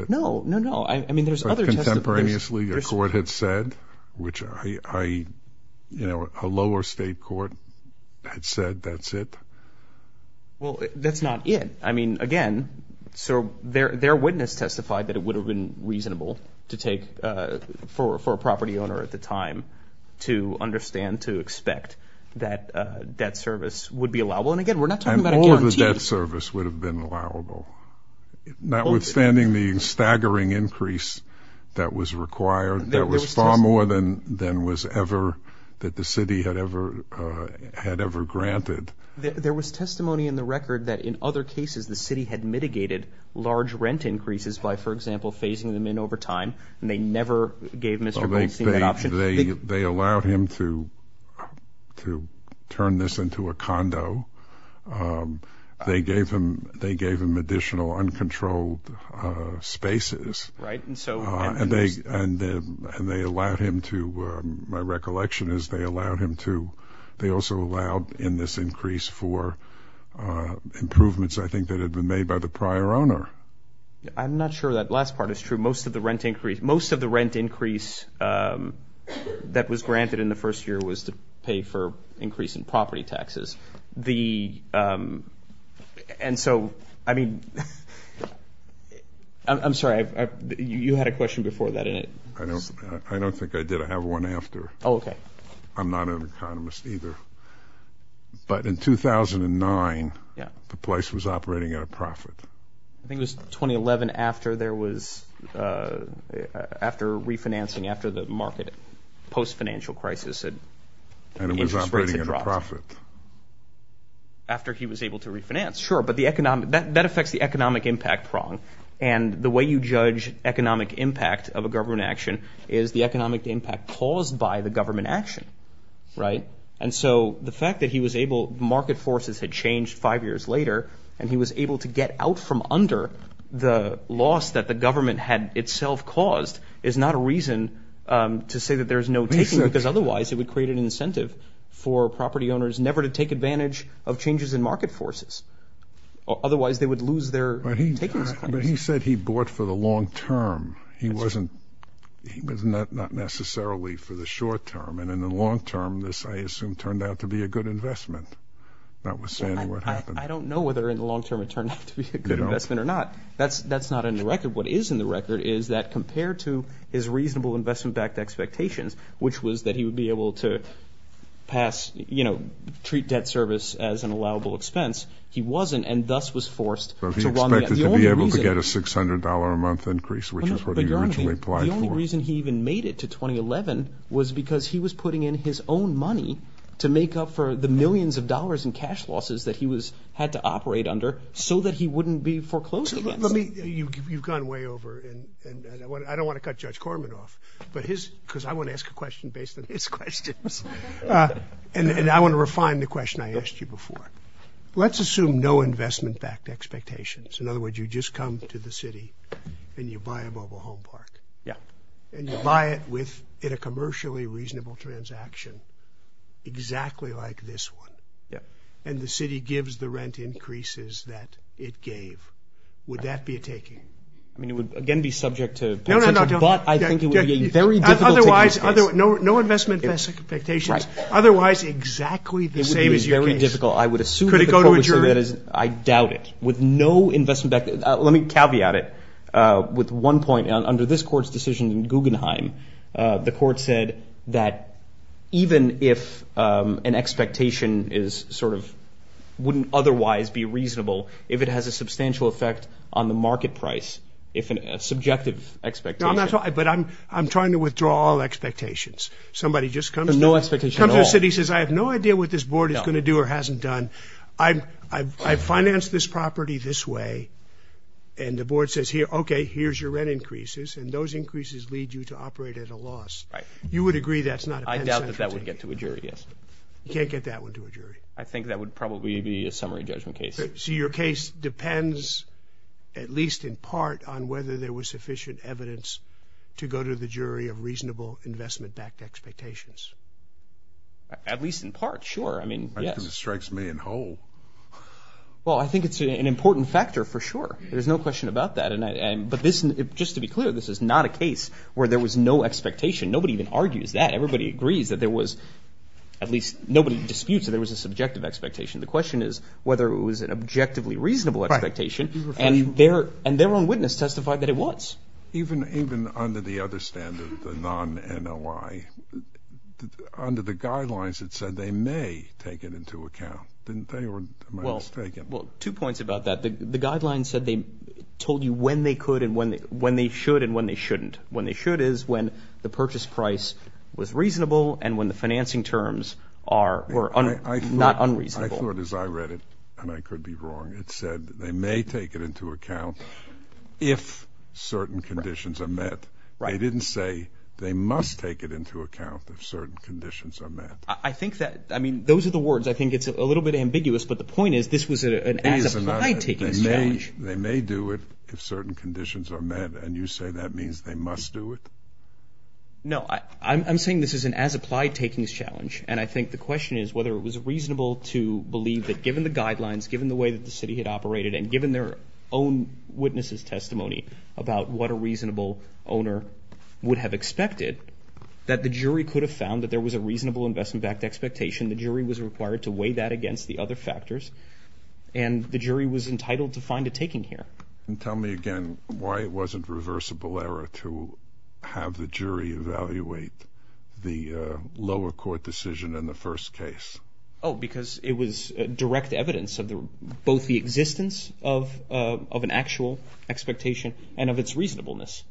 No, no, no. I mean, there's other testimonies. But contemporaneously, a court had said, which a lower state court had said, that's it? Well, that's not it. I mean, again, so their witness testified that it would have been reasonable to take, for a property owner at the time, to understand, to expect, that debt service would be allowable. And again, we're not talking about a guarantee. And all of the debt service would have been allowable. Notwithstanding the staggering increase that was required, that was far more than was ever, that the city had ever granted. There was testimony in the record that in other cases, the city had mitigated large rent increases by, for example, phasing them in over time, and they never gave Mr. Goldstein that option. They allowed him to turn this into a condo. They gave him additional uncontrolled spaces. Right, and so. And they allowed him to, my recollection is they allowed him to, they also allowed in this increase for improvements, I think, that had been made by the prior owner. I'm not sure that last part is true. Most of the rent increase, most of the rent increase that was granted in the first year was to pay for increase in property taxes. The, and so, I mean, I'm sorry, you had a question before that, didn't you? I don't think I did. I have one after. Oh, okay. I'm not an economist either. But in 2009, the place was operating at a profit. I think it was 2011 after there was, after refinancing, after the market, post-financial crisis, the interest rates had dropped. Profit. After he was able to refinance, sure. But the economic, that affects the economic impact prong. And the way you judge economic impact of a government action is the economic impact caused by the government action, right? And so the fact that he was able, market forces had changed five years later, and he was able to get out from under the loss that the government had itself caused is not a reason to say that there's no taking because otherwise it would create an incentive for property owners never to take advantage of changes in market forces. Otherwise they would lose their taking. But he said he bought for the long-term. He wasn't, he was not necessarily for the short-term. And in the long-term, this, I assume, turned out to be a good investment. That was saying what happened. I don't know whether in the long-term it turned out to be a good investment or not. That's not in the record. What is in the record is that compared to his reasonable investment-backed expectations, which was that he would be able to pass, you know, treat debt service as an allowable expense, he wasn't, and thus was forced to run the- The only reason- Was he expected to be able to get a $600 a month increase, which is what he originally applied for? The only reason he even made it to 2011 was because he was putting in his own money to make up for the millions of dollars in cash losses that he had to operate under so that he wouldn't be foreclosed against. Let me, you've gone way over, and I don't want to cut Judge Corman off, but his, because I want to ask a question based on his questions, and I want to refine the question I asked you before. Let's assume no investment-backed expectations. In other words, you just come to the city and you buy a mobile home park. Yeah. And you buy it with, in a commercially reasonable transaction, exactly like this one. Yeah. And the city gives the rent increases that it gave. Would that be a taking? I mean, it would, again, be subject to- No, no, no. But I think it would be a very difficult- Otherwise, no investment-backed expectations. Otherwise, exactly the same as your case. It would be very difficult. I would assume- Could it go to adjourn? I doubt it. With no investment-backed, let me caveat it with one point. Under this court's decision in Guggenheim, the court said that even if an expectation is sort of, wouldn't otherwise be reasonable if it has a substantial effect on the market price, if a subjective expectation- But I'm trying to withdraw all expectations. Somebody just comes to- But no expectation at all. Comes to the city, says, I have no idea what this board is gonna do or hasn't done. I've financed this property this way. And the board says, here, okay, here's your rent increases. And those increases lead you to operate at a loss. Right. You would agree that's not- I doubt that that would get to a jury, yes. You can't get that one to a jury. I think that would probably be a summary judgment case. So your case depends, at least in part, on whether there was sufficient evidence to go to the jury of reasonable investment-backed expectations. At least in part, sure. I mean, yes. Because it strikes me in whole. Well, I think it's an important factor, for sure. There's no question about that. But this, just to be clear, this is not a case where there was no expectation. Nobody even argues that. Everybody agrees that there was, at least nobody disputes that there was a subjective expectation. The question is whether it was an objectively reasonable expectation. And their own witness testified that it was. Even under the other standard, the non-NOI, under the guidelines it said they may take it into account. Didn't they, or am I mistaken? Well, two points about that. The guidelines said they told you when they could and when they should and when they shouldn't. When they should is when the purchase price was reasonable and when the financing terms were not unreasonable. I thought as I read it, and I could be wrong, it said they may take it into account if certain conditions are met. They didn't say they must take it into account if certain conditions are met. I think that, I mean, those are the words. I think it's a little bit ambiguous, but the point is this was an as-applied takings challenge. They may do it if certain conditions are met. And you say that means they must do it? No, I'm saying this is an as-applied takings challenge. And I think the question is whether it was reasonable to believe that given the guidelines, given the way that the city had operated, and given their own witnesses' testimony about what a reasonable owner would have expected, that the jury could have found that there was a reasonable investment backed expectation. The jury was required to weigh that against the other factors. And the jury was entitled to find a taking here. And tell me again why it wasn't reversible error to have the jury evaluate the lower court decision in the first case. Oh, because it was direct evidence of both the existence of an actual expectation and of its reasonableness.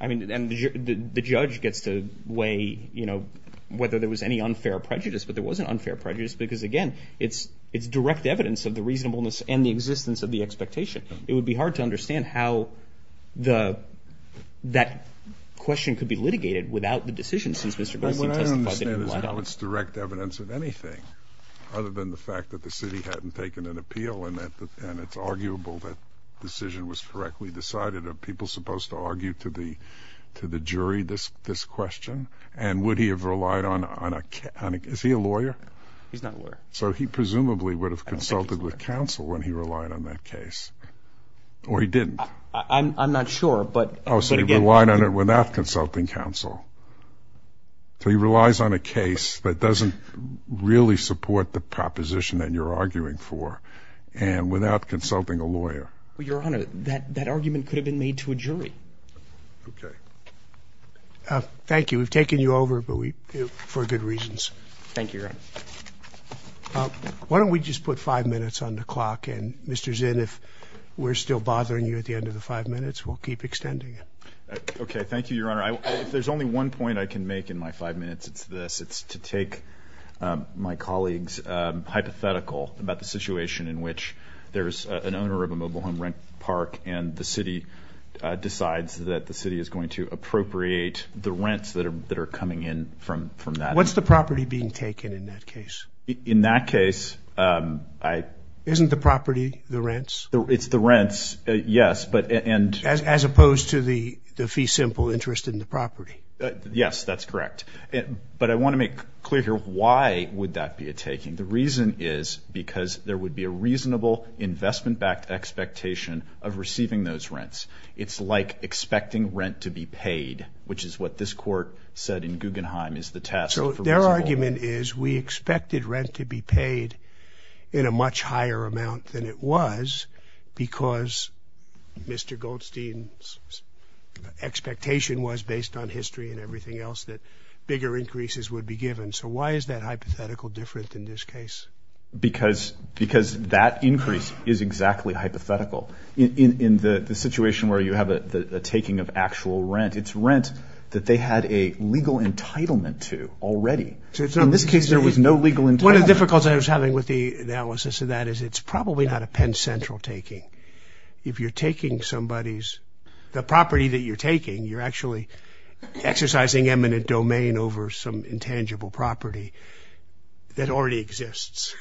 I mean, and the judge gets to weigh, you know, whether there was any unfair prejudice, but there wasn't unfair prejudice, because again, it's direct evidence of the reasonableness and the existence of the expectation. It would be hard to understand how that question could be litigated without the decision since Mr. Goldstein testified that he relied on it. Well, what I don't understand is that he relied on anything other than the fact that the city hadn't taken an appeal and it's arguable that decision was correctly decided. Are people supposed to argue to the jury this question? And would he have relied on a, is he a lawyer? He's not a lawyer. So he presumably would have consulted with counsel when he relied on that case, or he didn't? I'm not sure, but again- Oh, so he relied on it without consulting counsel. So he relies on a case that doesn't really support the proposition that you're arguing for and without consulting a lawyer. Well, Your Honor, that argument could have been made to a jury. Okay. Thank you. We've taken you over, but we, for good reasons. Thank you, Your Honor. Why don't we just put five minutes on the clock and Mr. Zinn, if we're still bothering you at the end of the five minutes, we'll keep extending it. Okay, thank you, Your Honor. If there's only one point I can make in my five minutes, it's this, it's to take my colleagues hypothetical about the situation in which there's an owner of a mobile home rent park and the city decides that the city is going to appropriate the rents that are coming in from that. What's the property being taken in that case? In that case, I- Isn't the property the rents? It's the rents, yes, but- As opposed to the fee simple interest in the property. Yes, that's correct. But I want to make clear here, why would that be a taking? The reason is because there would be a reasonable investment-backed expectation of receiving those rents. It's like expecting rent to be paid, which is what this court said in Guggenheim, is the test for- So their argument is we expected rent to be paid in a much higher amount than it was because Mr. Goldstein's expectation was based on history and everything else that bigger increases would be given. So why is that hypothetical different in this case? Because that increase is exactly hypothetical. In the situation where you have a taking of actual rent, it's rent that they had a legal entitlement to already. So in this case, there was no legal entitlement. One of the difficulties I was having with the analysis of that is it's probably not a Penn Central taking. If you're taking somebody's, the property that you're taking you're actually exercising eminent domain over some intangible property that already exists.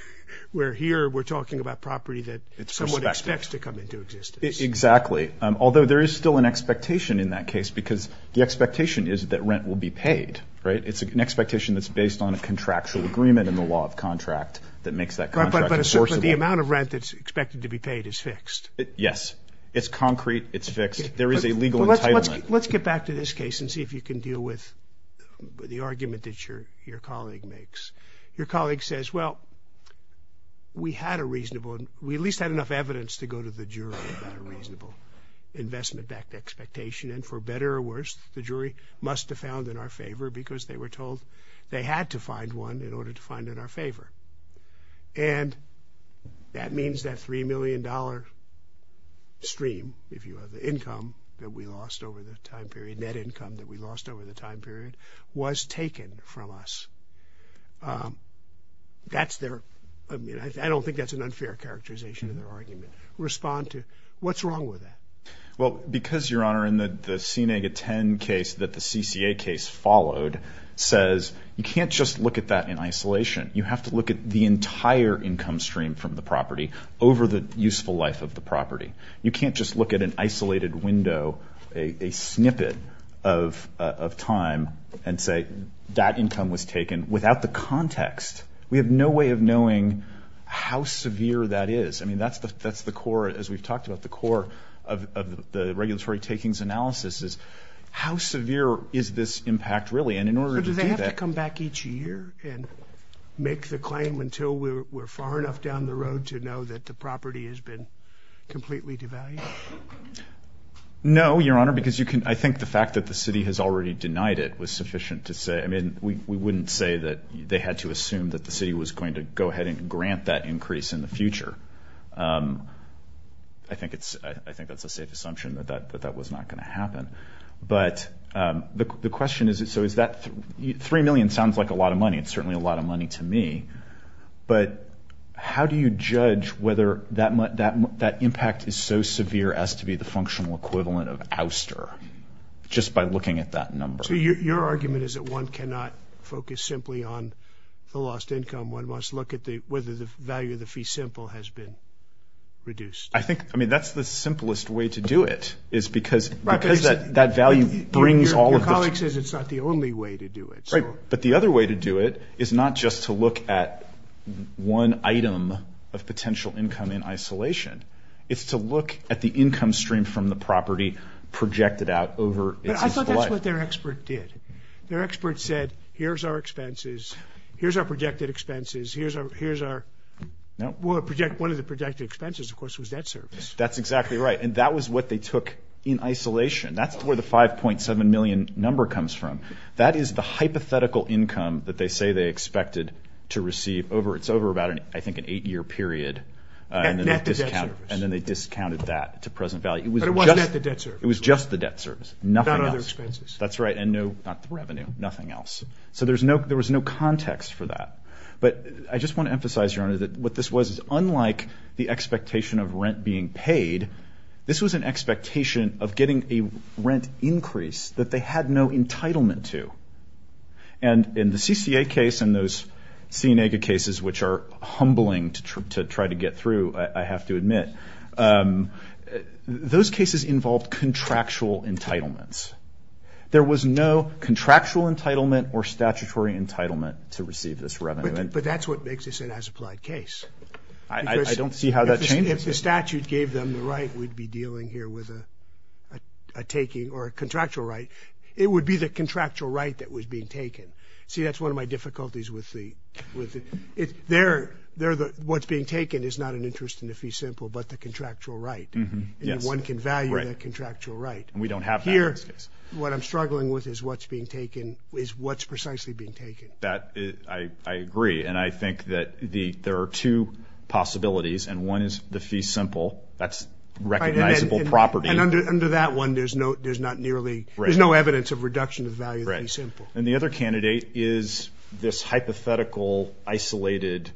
Where here we're talking about property that someone expects to come into existence. Exactly. Although there is still an expectation in that case because the expectation is that rent will be paid, right? It's an expectation that's based on a contractual agreement and the law of contract that makes that contract enforceable. But the amount of rent that's expected to be paid is fixed. Yes, it's concrete, it's fixed. There is a legal entitlement. Let's get back to this case and see if you can deal with the argument that your colleague makes. Your colleague says, well, we had a reasonable, we at least had enough evidence to go to the jury about a reasonable investment expectation. And for better or worse, the jury must have found in our favor because they were told they had to find one in order to find it in our favor. And that means that $3 million stream, if you have the income that we lost over the time period, net income that we lost over the time period, was taken from us. That's their, I mean, I don't think that's an unfair characterization of their argument. Respond to, what's wrong with that? Well, because, Your Honor, in the C-10 case that the CCA case followed says, you can't just look at that in isolation. You have to look at the entire income stream from the property over the useful life of the property. You can't just look at an isolated window, a snippet of time and say that income was taken without the context. We have no way of knowing how severe that is. I mean, that's the core, as we've talked about, the core of the regulatory takings analysis is how severe is this impact really? And in order to do that- So do they have to come back each year and make the claim until we're far enough down the road to know that the property has been completely devalued? No, Your Honor, because you can, I think the fact that the city has already denied it was sufficient to say, I mean, we wouldn't say that they had to assume that the city was going to go ahead and grant that increase in the future. I think that's a safe assumption that that was not gonna happen. But the question is, so is that, three million sounds like a lot of money. It's certainly a lot of money to me, but how do you judge whether that impact is so severe as to be the functional equivalent of ouster just by looking at that number? So your argument is that one cannot focus simply on the lost income. One must look at whether the value of the fee simple has been reduced. I think, I mean, that's the simplest way to do it is because that value brings all of it. Your colleague says it's not the only way to do it. Right, but the other way to do it is not just to look at one item of potential income in isolation. It's to look at the income stream from the property projected out over its entire life. I thought that's what their expert did. Their expert said, here's our expenses. Here's our projected expenses. Here's our, one of the projected expenses, of course, was debt service. That's exactly right. And that was what they took in isolation. That's where the 5.7 million number comes from. That is the hypothetical income that they say they expected to receive over, it's over about, I think, an eight year period. And then they discounted that to present value. It was just the debt service, nothing else. That's right, and no, not the revenue, nothing else. So there was no context for that. But I just want to emphasize, Your Honor, that what this was is unlike the expectation of rent being paid. This was an expectation of getting a rent increase that they had no entitlement to. And in the CCA case and those Sienega cases, which are humbling to try to get through, I have to admit, those cases involved contractual entitlements. There was no contractual entitlement or statutory entitlement to receive this revenue. But that's what makes this an as-applied case. I don't see how that changes. If the statute gave them the right, we'd be dealing here with a taking, or a contractual right, it would be the contractual right that was being taken. See, that's one of my difficulties with the, what's being taken is not an interest in the fee simple, but the contractual right. One can value the contractual right. And we don't have that in this case. What I'm struggling with is what's being taken, is what's precisely being taken. I agree, and I think that there are two possibilities, and one is the fee simple. That's recognizable property. And under that one, there's no evidence of reduction of value of the fee simple. And the other candidate is this hypothetical, isolated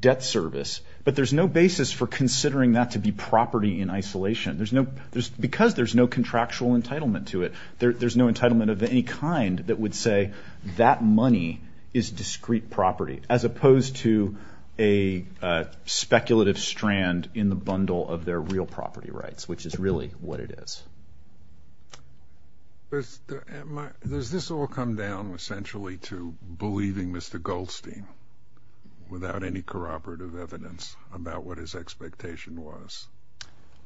debt service. But there's no basis for considering that to be property in isolation. Because there's no contractual entitlement to it, there's no entitlement of any kind that would say that money is discrete property, as opposed to a speculative strand in the bundle of their real property rights, which is really what it is. Does this all come down essentially to believing Mr. Goldstein without any corroborative evidence about what his expectation was?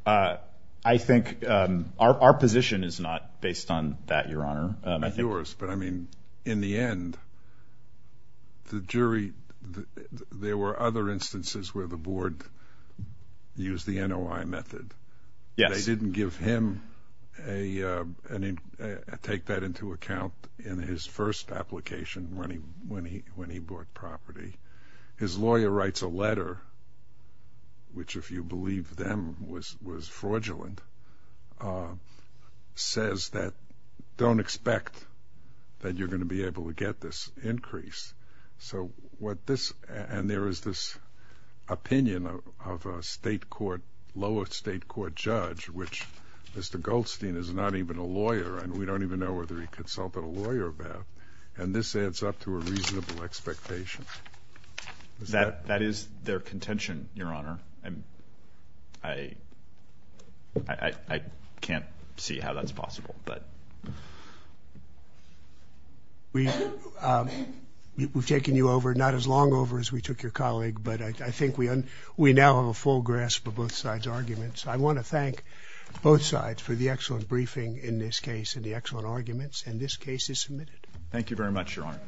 I think our position is not based on that, Your Honor. I think yours, but I mean, in the end, the jury, there were other instances where the board used the NOI method. They didn't give him, take that into account in his first application when he bought property. His lawyer writes a letter, which if you believe them was fraudulent, says that, don't expect that you're gonna be able to get this increase. So what this, and there is this opinion of a state court, lowest state court judge, which Mr. Goldstein is not even a lawyer, and we don't even know whether he consulted a lawyer about. And this adds up to a reasonable expectation. That is their contention, Your Honor. I can't see how that's possible, but. We've taken you over, not as long over as we took your colleague, but I think we now have a full grasp of both sides' arguments. I wanna thank both sides for the excellent briefing in this case and the excellent arguments, and this case is submitted. Thank you very much, Your Honor.